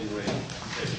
Appeal number 2011-N68, In Re Fisch.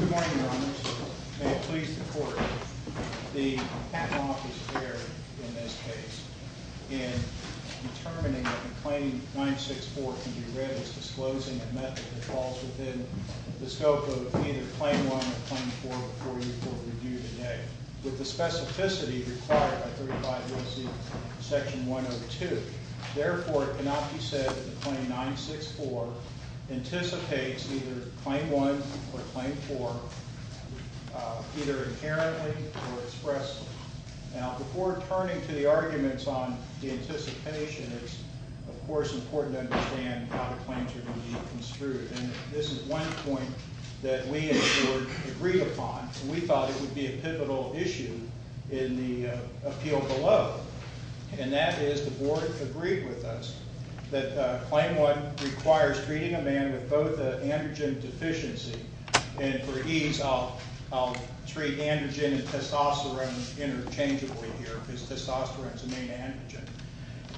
Good morning, Your Honors. May it please the Court, the patent office here, in this case, in determining that the Claim 964 can be read as disclosing a method that falls within the scope of either Claim 1 or Claim 4 before you for review today. With the specificity required by 35 U.S.C. Section 102. Therefore, it cannot be said that the Claim 964 anticipates either Claim 1 or Claim 4 either inherently or expressly. Now, before turning to the arguments on the anticipation, it's, of course, important to understand how the claims are going to be construed. And this is one point that we, in short, agreed upon. We thought it would be a pivotal issue in the appeal below. And that is the Board agreed with us that Claim 1 requires treating a man with both androgen deficiency, and for ease, I'll treat androgen and testosterone interchangeably here, because testosterone is the main androgen.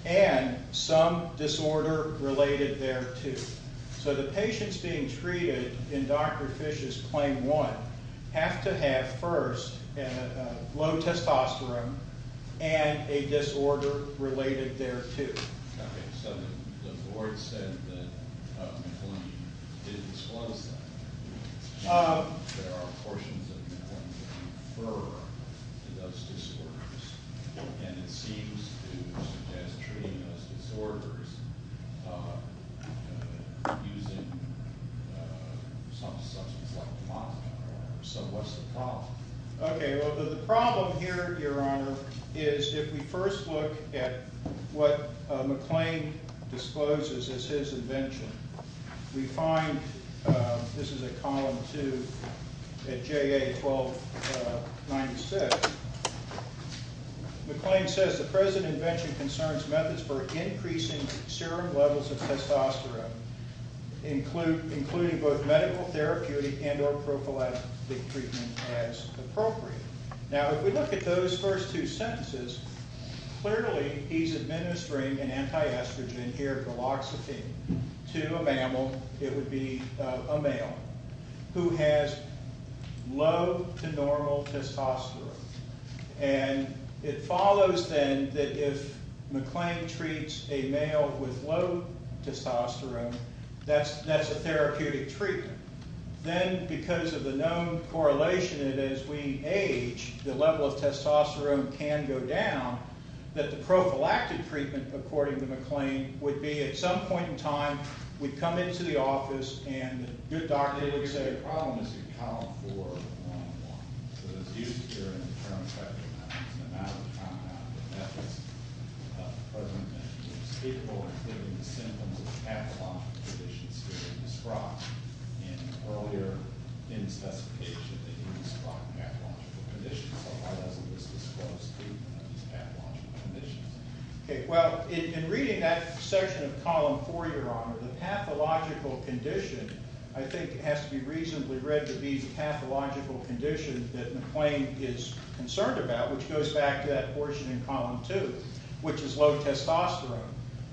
And some disorder related thereto. So the patients being treated in Dr. Fish's Claim 1 have to have, first, low testosterone and a disorder related thereto. Okay, so the Board said that McClendon didn't disclose that. There are portions of McClendon that refer to those disorders. And it seems to suggest treating those disorders using some substance like methadone. So what's the problem? Okay, well, the problem here, Your Honor, is if we first look at what McClain discloses as his invention, we find this is a column 2 at JA 1296. McClain says, the present invention concerns methods for increasing serum levels of testosterone, including both medical therapeutic and or prophylactic treatment as appropriate. Now, if we look at those first two sentences, clearly he's administering an anti-estrogen here, galoxafene, to a mammal. It would be a male who has low to normal testosterone. And it follows, then, that if McClain treats a male with low testosterone, that's a therapeutic treatment. Then, because of the known correlation that as we age, the level of testosterone can go down, that the prophylactic treatment, according to McClain, would be at some point in time, we'd come into the office, and the good doctor would say, the problem is in column 4 of 101. So it's used here in the current practice. I think it's a matter of compounding methods. The present invention was capable of giving the symptoms of pathological conditions he had described earlier in the specification that he described pathological conditions. So why doesn't this disclose treatment of these pathological conditions? Okay, well, in reading that section of column 4, Your Honor, the pathological condition, I think it has to be reasonably read to be the pathological condition that McClain is concerned about, which goes back to that portion in column 2, which is low testosterone.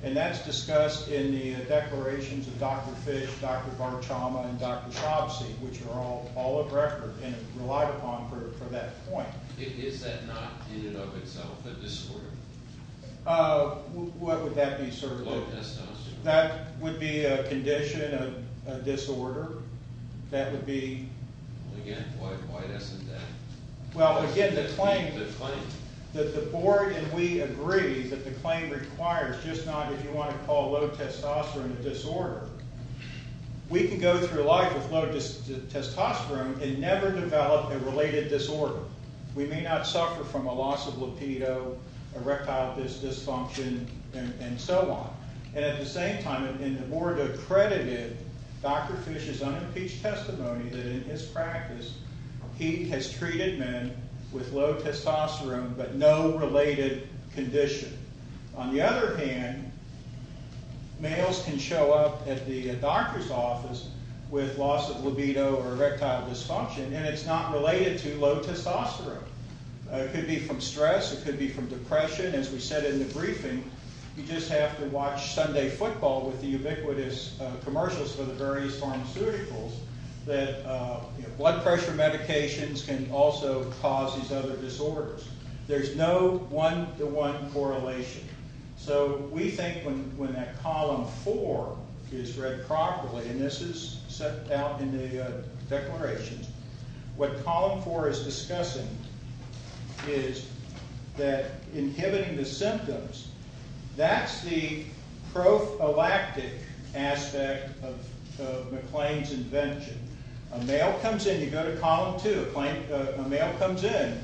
And that's discussed in the declarations of Dr. Fish, Dr. Barchama, and Dr. Shobsey, which are all of record and relied upon for that point. Is that not, in and of itself, a disorder? What would that be, sir? Low testosterone. That would be a condition, a disorder. That would be... Again, why doesn't that... Well, again, the claim... The claim... That the board and we agree that the claim requires just not, if you want to call low testosterone a disorder. We can go through life with low testosterone and never develop a related disorder. We may not suffer from a loss of lupido, erectile dysfunction, and so on. And at the same time, in the board accredited Dr. Fish's unimpeached testimony that in his practice he has treated men with low testosterone but no related condition. On the other hand, males can show up at the doctor's office with loss of lupido or erectile dysfunction, and it's not related to low testosterone. It could be from stress. It could be from depression. As we said in the briefing, you just have to watch Sunday football with the ubiquitous commercials for the various pharmaceuticals that blood pressure medications can also cause these other disorders. There's no one-to-one correlation. So we think when that column four is read properly, and this is set out in the declarations, what column four is discussing is that inhibiting the symptoms, that's the prophylactic aspect of McLean's invention. A male comes in. You go to column two. A male comes in.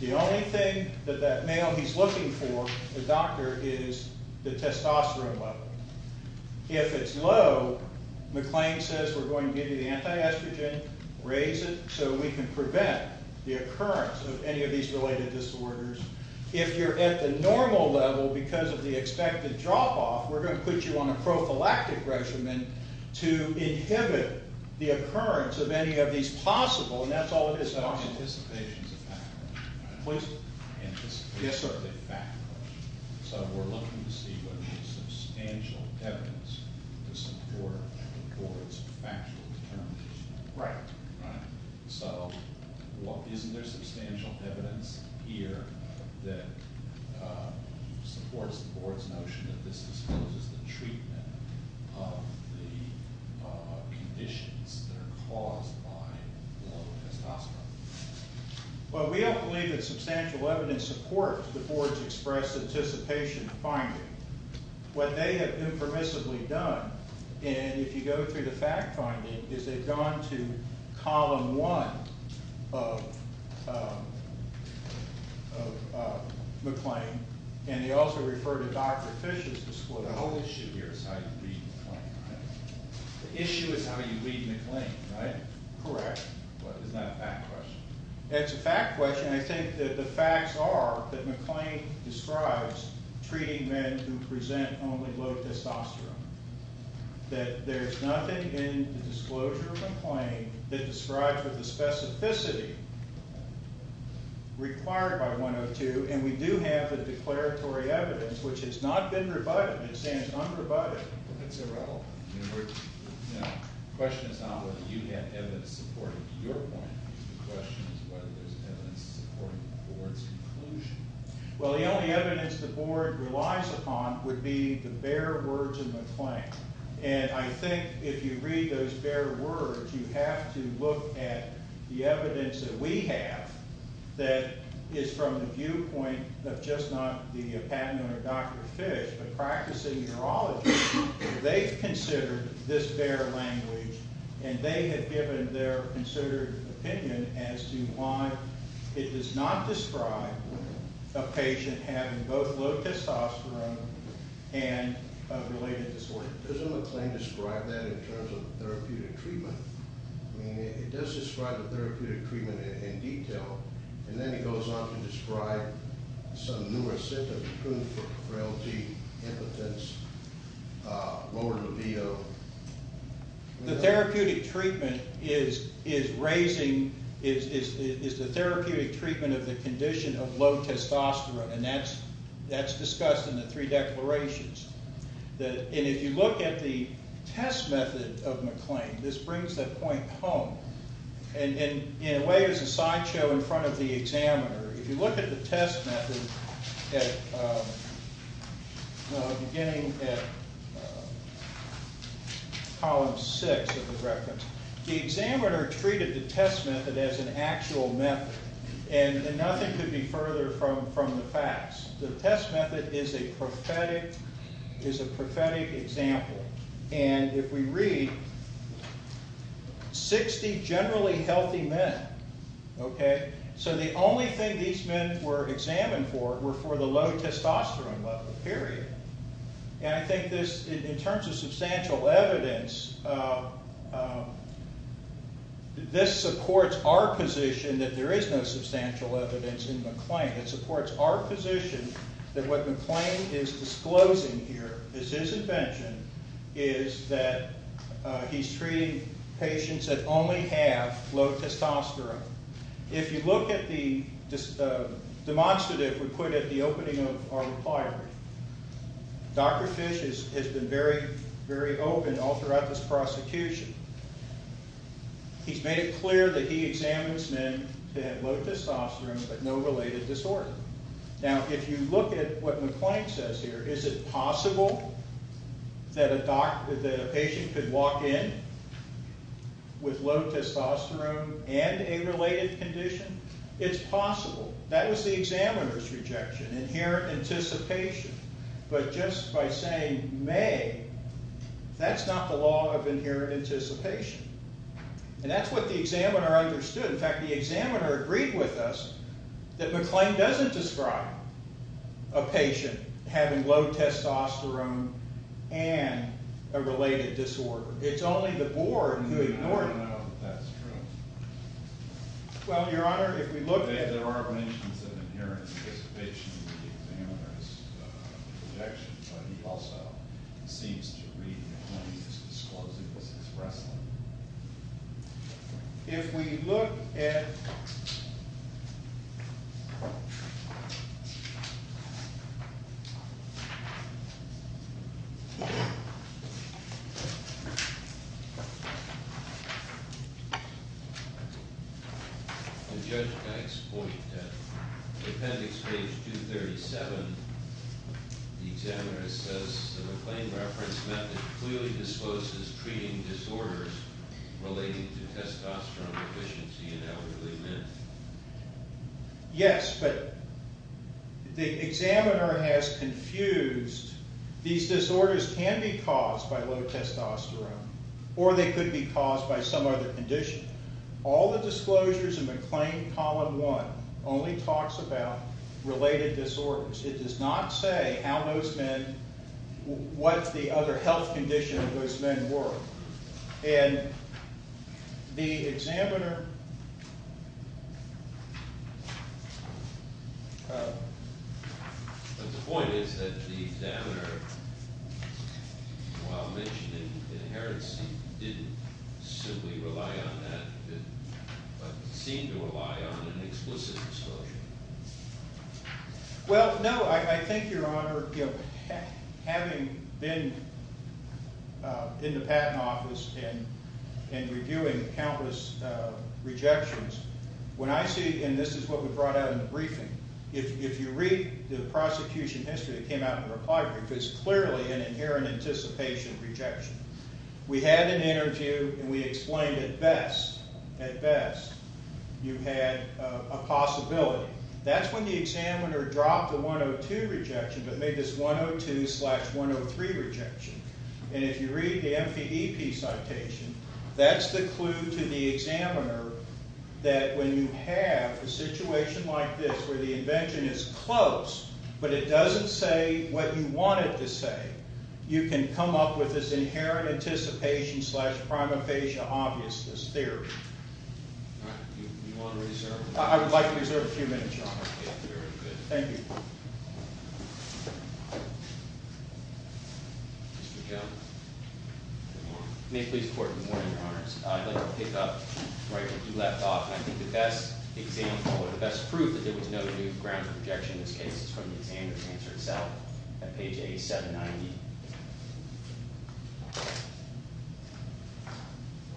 The only thing that that male he's looking for, the doctor, is the testosterone level. If it's low, McLean says, we're going to give you the anti-estrogen, raise it, so we can prevent the occurrence of any of these related disorders. If you're at the normal level because of the expected drop-off, we're going to put you on a prophylactic regimen to inhibit the occurrence of any of these possible, and that's all it is. So anticipation is a factor. Yes, sir. Anticipation is a factor. So we're looking to see whether there's substantial evidence to support the board's factual determination. Right. So isn't there substantial evidence here that supports the board's notion that this exposes the treatment of the conditions that are caused by low testosterone? Well, we don't believe that substantial evidence supports the board's expressed anticipation finding. What they have impermissibly done, and if you go through the fact finding, is they've gone to column one of McLean, and they also refer to Dr. Fish's disclosure. The whole issue here is how you read McLean, right? The issue is how you read McLean, right? Correct. But it's not a fact question. It's a fact question. I think that the facts are that McLean describes treating men who present only low testosterone, that there's nothing in the disclosure of McLean that describes what the specificity required by 102, and we do have the declaratory evidence, which has not been rebutted. It stands unrebutted. That's irrelevant. The question is not whether you have evidence supporting your point. The question is whether there's evidence supporting the board's conclusion. Well, the only evidence the board relies upon would be the bare words in McLean, and I think if you read those bare words, you have to look at the evidence that we have that is from the viewpoint of just not the patent owner, Dr. Fish, but practicing urologists. They've considered this bare language, and they have given their considered opinion as to why it does not describe a patient having both low testosterone and a related disorder. Doesn't McLean describe that in terms of therapeutic treatment? I mean, it does describe the therapeutic treatment in detail, and then he goes on to describe some numerous symptoms, including frailty, impotence, lower libido. The therapeutic treatment is the therapeutic treatment of the condition of low testosterone, and that's discussed in the three declarations. And if you look at the test method of McLean, this brings that point home, and in a way it's a sideshow in front of the examiner. If you look at the test method beginning at column six of the reference, the examiner treated the test method as an actual method, and nothing could be further from the facts. The test method is a prophetic example, and if we read, 60 generally healthy men, so the only thing these men were examined for were for the low testosterone level, period. And I think this, in terms of substantial evidence, this supports our position that there is no substantial evidence in McLean. It supports our position that what McLean is disclosing here is his invention, is that he's treating patients that only have low testosterone. If you look at the demonstrative we put at the opening of our requirement, Dr. Fish has been very, very open all throughout this prosecution. He's made it clear that he examines men to have low testosterone but no related disorder. Now, if you look at what McLean says here, is it possible that a patient could walk in with low testosterone and a related condition? It's possible. That was the examiner's rejection, inherent anticipation. But just by saying may, that's not the law of inherent anticipation. And that's what the examiner understood. In fact, the examiner agreed with us that McLean doesn't describe a patient having low testosterone and a related disorder. It's only the board who ignores it. I don't know that that's true. Well, Your Honor, if we look at... Yes, there are mentions of inherent anticipation in the examiner's rejection, but he also seems to agree that McLean is disclosing this expressly. If we look at... Judge Dykes' point, appendix page 237, the examiner says that the McLean reference method clearly discloses treating disorders relating to testosterone deficiency in elderly men. Yes, but the examiner has confused... These disorders can be caused by low testosterone, or they could be caused by some other condition. All the disclosures in McLean, column 1, only talks about related disorders. It does not say how those men... what the other health conditions of those men were. And the examiner... But the point is that the examiner, while mentioning inherency, didn't simply rely on that, but seemed to rely on an explicit disclosure. Well, no, I think, Your Honor, having been in the Patent Office and reviewing countless rejections, when I see, and this is what we brought out in the briefing, if you read the prosecution history that came out in the reply brief, it's clearly an inherent anticipation rejection. We had an interview, and we explained at best, at best, you had a possibility. That's when the examiner dropped the 102 rejection, but made this 102-slash-103 rejection. And if you read the MPEP citation, that's the clue to the examiner that when you have a situation like this, where the invention is close, but it doesn't say what you want it to say, you can come up with this inherent anticipation-slash-primephasia-obviousness theory. I would like to reserve a few minutes, Your Honor. Thank you. Mr. Jones. Good morning. May it please the Court, good morning, Your Honors. I'd like to pick up right where you left off, and I think the best example, or the best proof, that there was no new grounds for rejection in this case is from the examiner's answer itself at page 8790,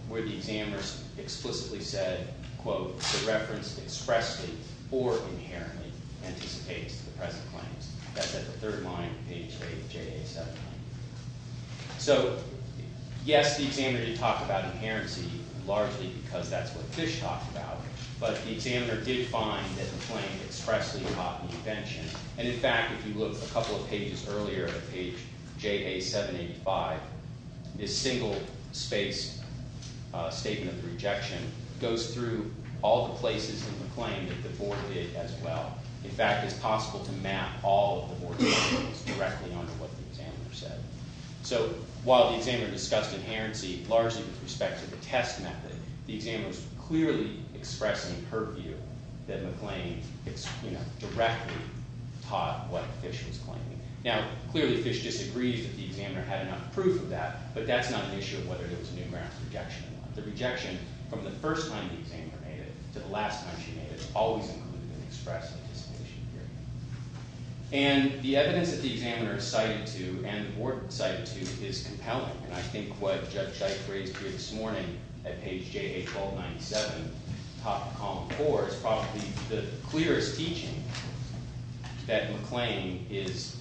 where the examiner explicitly said, quote, the reference expressly or inherently anticipates the present claims. That's at the third line, page 8 of JA 789. So, yes, the examiner did talk about inherency, largely because that's what Fish talked about, but the examiner did find that the claim expressly taught the invention. And, in fact, if you look a couple of pages earlier at page JA 785, this single-space statement of rejection goes through all the places in the claim that the board did as well. In fact, it's possible to map all of the board's claims directly onto what the examiner said. So, while the examiner discussed inherency, largely with respect to the test method, the examiner's clearly expressing her view that McLean, you know, directly taught what Fish was claiming. Now, clearly, Fish disagrees that the examiner had enough proof of that, but the rejection, from the first time the examiner made it to the last time she made it, is always included in the express anticipation period. And the evidence that the examiner cited to, and the board cited to, is compelling. And I think what Judge Ike raised here this morning at page JA 1297, top of column 4, is probably the clearest teaching that McLean is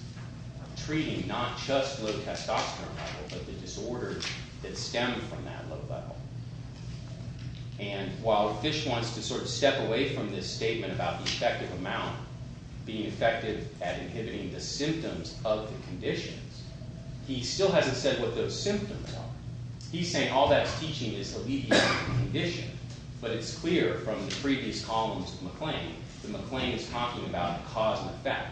treating not just low-testosterone levels, but the disorders that stem from that low level. And while Fish wants to sort of step away from this statement about the effective amount being effective at inhibiting the symptoms of the conditions, he still hasn't said what those symptoms are. He's saying all that's teaching is alleviating the condition. But it's clear from the previous columns of McLean that McLean is talking about cause and effect.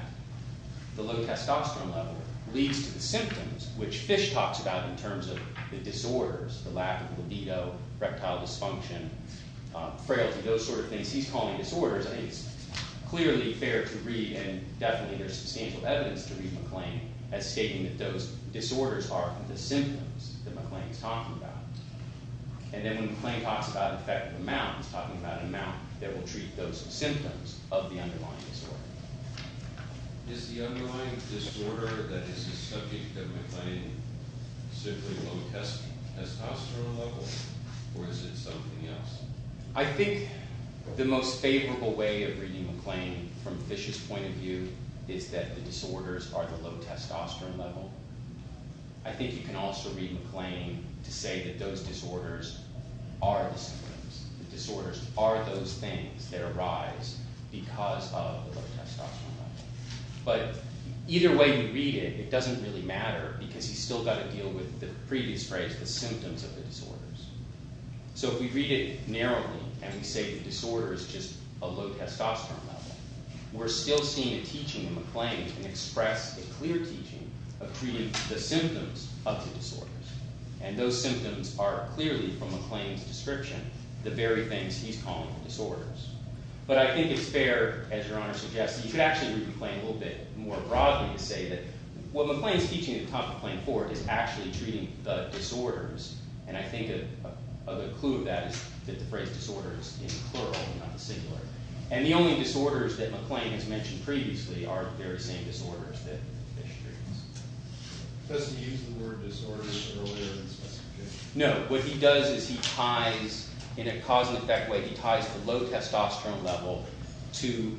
The low testosterone level leads to the symptoms, which Fish talks about in terms of the disorders, the lack of libido, reptile dysfunction, frailty, those sort of things. He's calling disorders. I mean, it's clearly fair to read, and definitely there's substantial evidence to read McLean as stating that those disorders are the symptoms that McLean is talking about. And then when McLean talks about effective amount, he's talking about an amount that will treat those symptoms of the underlying disorder. Is the underlying disorder that is the subject of McLean simply low testosterone level, or is it something else? I think the most favorable way of reading McLean from Fish's point of view is that the disorders are the low testosterone level. I think you can also read McLean to say that those disorders are the symptoms. The disorders are those things that arise because of the low testosterone level. But either way you read it, it doesn't really matter because he's still got to deal with the previous phrase, the symptoms of the disorders. So if we read it narrowly and we say the disorder is just a low testosterone level, we're still seeing a teaching in McLean to express a clear teaching of treating the symptoms of the disorders. And those symptoms are clearly, from McLean's description, the very things he's calling disorders. But I think it's fair, as Your Honor suggests, that you could actually read McLean a little bit more broadly and say that what McLean is teaching at the top of plane four is actually treating the disorders. And I think a good clue of that is that the phrase disorders is plural, not singular. And the only disorders that McLean has mentioned previously are the very same disorders that Fish treats. Does he use the word disorders earlier in his presentation? No. What he does is he ties, in a cause-and-effect way, he ties the low testosterone level to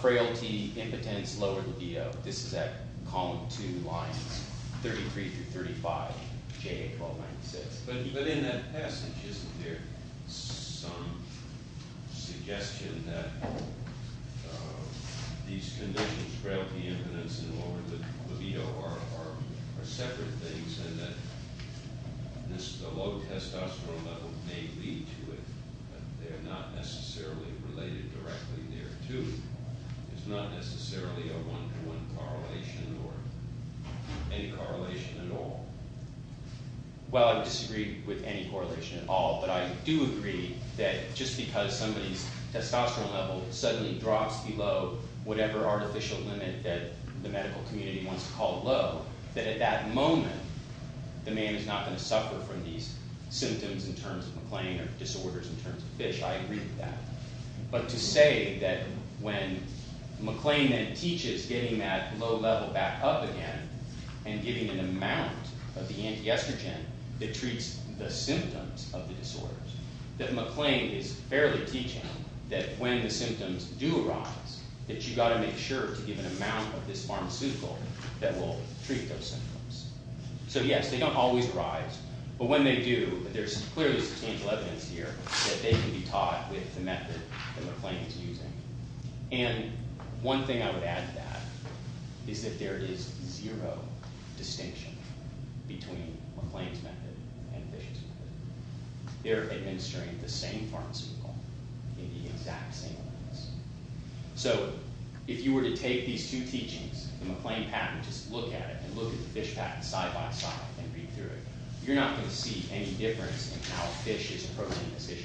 frailty, impotence, lower libido. This is at column 2, lines 33 through 35, J.A. 1296. But in that passage, isn't there some suggestion that these conditions, frailty, impotence, and lower libido, are separate things and that the low testosterone level may lead to it, but they're not necessarily related directly there, too? There's not necessarily a one-to-one correlation or any correlation at all? Well, I disagree with any correlation at all, but I do agree that just because somebody's testosterone level suddenly drops below whatever artificial limit that the medical community wants to call low, that at that moment, the man is not going to suffer from these symptoms in terms of McLean or disorders in terms of Fish. I agree with that. But to say that when McLean then teaches getting that low level back up again and giving an amount of the antiestrogen that treats the symptoms of the disorders, that McLean is fairly teaching that when the symptoms do arise, that you've got to make sure to give an amount of this pharmaceutical that will treat those symptoms. So yes, they don't always arise, but when they do, there's clearly substantial evidence here that they can be taught with the method that McLean's using. And one thing I would add to that is that there is zero distinction between McLean's method and Fish's method. They're administering the same pharmaceutical in the exact same way. So if you were to take these two teachings, the McLean pattern, just look at it, and look at the Fish pattern side by side, and read through it, you're not going to see any difference in how Fish is approaching this issue.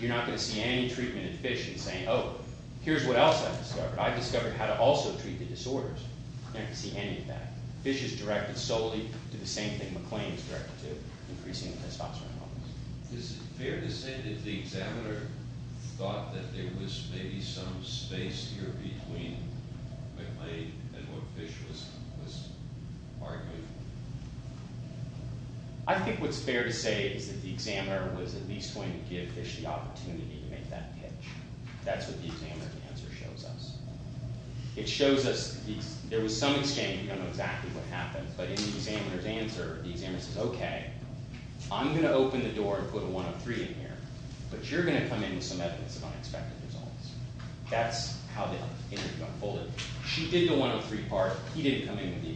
You're not going to see any treatment in Fish in saying, oh, here's what else I've discovered. I've discovered how to also treat the disorders. You're not going to see any of that. Fish is directed solely to the same thing McLean is directed to, increasing testosterone levels. Is it fair to say that the examiner thought that there was maybe some space here between McLean and what Fish was arguing? I think what's fair to say is that the examiner was at least going to give Fish the opportunity to make that pitch. That's what the examiner's answer shows us. It shows us there was some exchange. We don't know exactly what happened, but in the examiner's answer, the examiner says, okay, I'm going to open the door and put a 103 in here, but you're going to come in with some evidence of unexpected results. That's how the interview unfolded. She did the 103 part. He didn't come in with the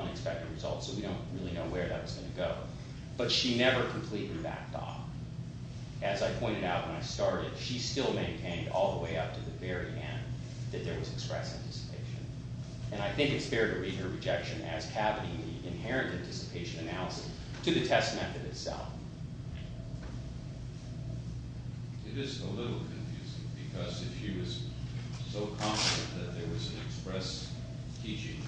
unexpected results, so we don't really know where that was going to go. But she never completely backed off. As I pointed out when I started, she still maintained all the way up to the very end that there was express anticipation. And I think it's fair to read her rejection as cavity in the inherent anticipation analysis to the test method itself. It is a little confusing, because if she was so confident that there was an express teaching,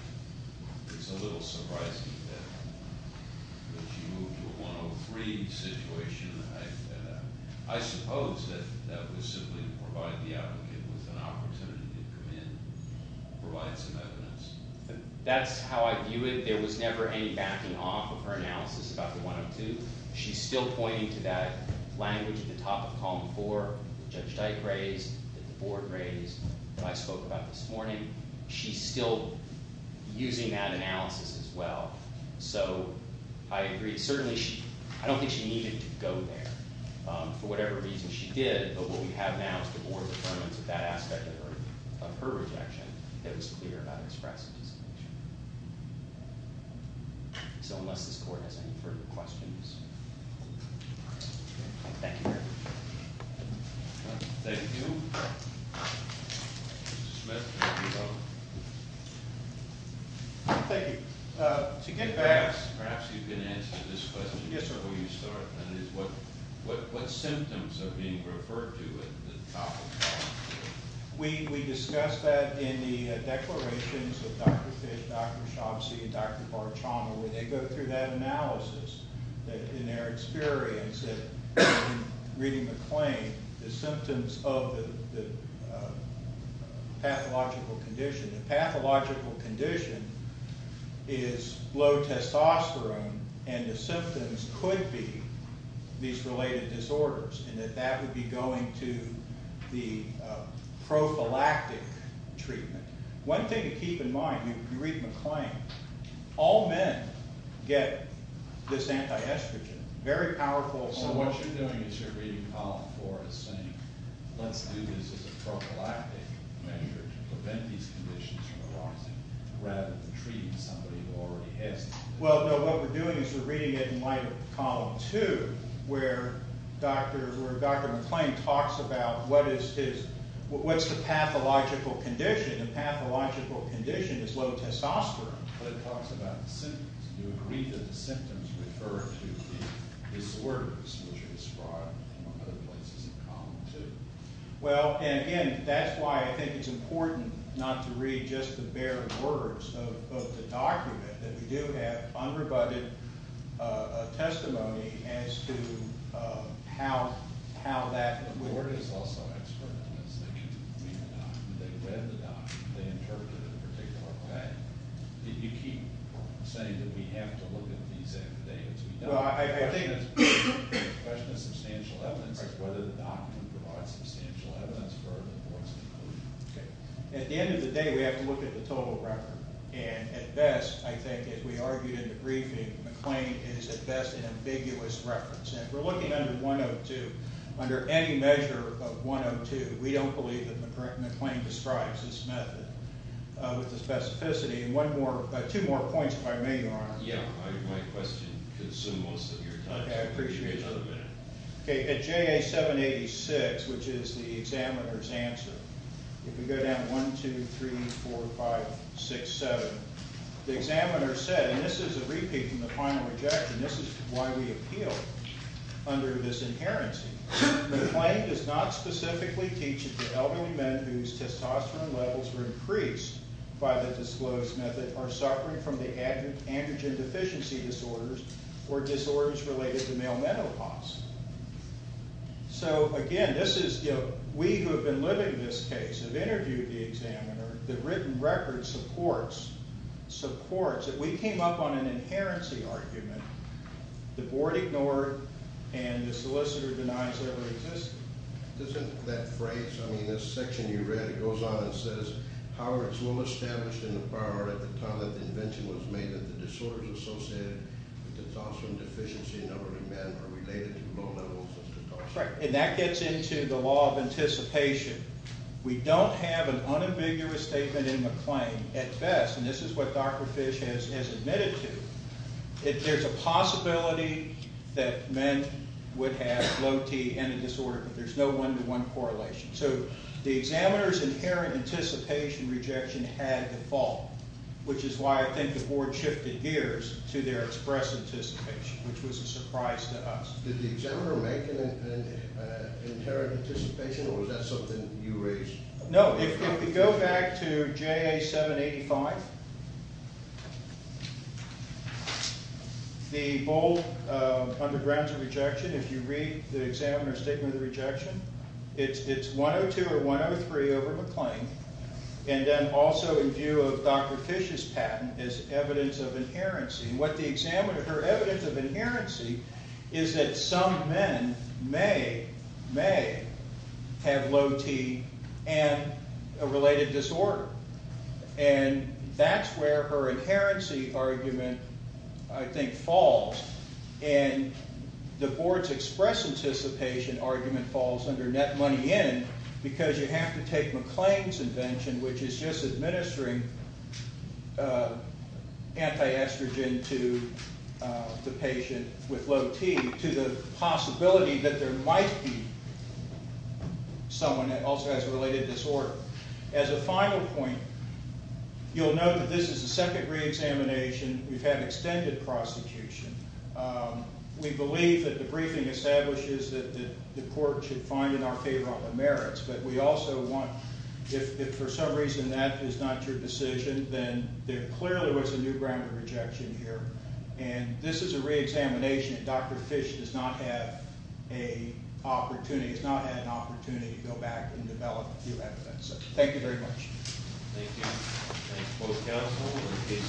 it's a little surprising that she moved to a 103 situation. I suppose that that was simply to provide the applicant with an opportunity to come in, provide some evidence. That's how I view it. There was never any backing off of her analysis about the 102. She's still pointing to that language at the top of column four that Judge Dyke raised, that the Board raised, that I spoke about this morning. She's still using that analysis as well. So I agree. Certainly, I don't think she needed to go there for whatever reason she did, but what we have now is the Board's affirmance of that aspect of her rejection that was clear about an express anticipation. So unless this Court has any further questions... Thank you very much. Thank you. Mr. Smith. Thank you. To get back... Perhaps you can answer this question before you start. We discussed that in the declarations of Dr. Fish, Dr. Shobsey, and Dr. Barchama, where they go through that analysis, in their experience, and reading the claim, the symptoms of the pathological condition. The pathological condition is low testosterone, and the symptoms could be these related disorders, and that that would be going to the prophylactic treatment. One thing to keep in mind, you read the claim, all men get this anti-estrogen, very powerful... So what you're doing is you're reading column four and saying, let's do this as a prophylactic measure to prevent these conditions from arising, rather than treating somebody who already has them. Well, no, what we're doing is we're reading it in light of column two, where Dr. McClain talks about what is his... What's the pathological condition? The pathological condition is low testosterone, but it talks about the symptoms. Do you agree that the symptoms refer to the disorders which are described in other places in column two? Well, and again, that's why I think it's important not to read just the bare words of the document, that we do have unrebutted testimony as to how that... The board is also expert on this. They read the document. They read the document. They interpreted it in a particular way. You keep saying that we have to look at these affidavits. I think it's a question of substantial evidence, whether the document provides substantial evidence for the board's conclusion. At the end of the day, we have to look at the total record, and at best, I think, as we argued in the briefing, McClain is at best an ambiguous reference. If we're looking under 102, under any measure of 102, we don't believe that McClain describes this method with the specificity. And two more points, if I may, Your Honor. Yeah, my question consumed most of your time. Okay, I appreciate it. At JA 786, which is the examiner's answer, if we go down one, two, three, four, five, six, seven, the examiner said, and this is a repeat from the final objection. This is why we appeal under this inherency. McClain does not specifically teach that the elderly men whose testosterone levels were increased by the disclosed method are suffering from the androgen deficiency disorders or disorders related to male menopause. So, again, this is, you know, we who have been living in this case have interviewed the examiner. The written record supports, supports that we came up on an inherency argument. The board ignored and the solicitor denies that it existed. Isn't that phrase, I mean, this section you read, it goes on and says, however, it's well established in the bar at the time that the invention was made that the disorders associated with testosterone deficiency in elderly men are related to low levels of testosterone. Right, and that gets into the law of anticipation. We don't have an unambiguous statement in McClain at best, and this is what Dr. Fish has admitted to. There's a possibility that men would have low T and a disorder, but there's no one-to-one correlation. So the examiner's inherent anticipation rejection had the fault, which is why I think the board shifted gears to their express anticipation, which was a surprise to us. Did the examiner make an inherent anticipation or was that something that you raised? No, if you go back to JA 785, the bold undergrounds of rejection, if you read the examiner's statement of rejection, it's 102 or 103 over McClain, and then also in view of Dr. Fish's patent is evidence of inherency. What the examiner, her evidence of inherency is that some men may, may have low T and a related disorder, and that's where her inherency argument, I think, falls, and the board's express anticipation argument falls under net money in because you have to take McClain's invention, which is just administering anti-estrogen to the patient with low T to the possibility that there might be someone that also has a related disorder. As a final point, you'll note that this is the second re-examination. We've had extended prosecution. We believe that the briefing establishes that the court should find in our favor all the merits, but we also want, if for some reason that is not your decision, then there clearly was a new ground of rejection here, and this is a re-examination, and Dr. Fish does not have an opportunity to go back and develop new evidence. Thank you very much. Thank you.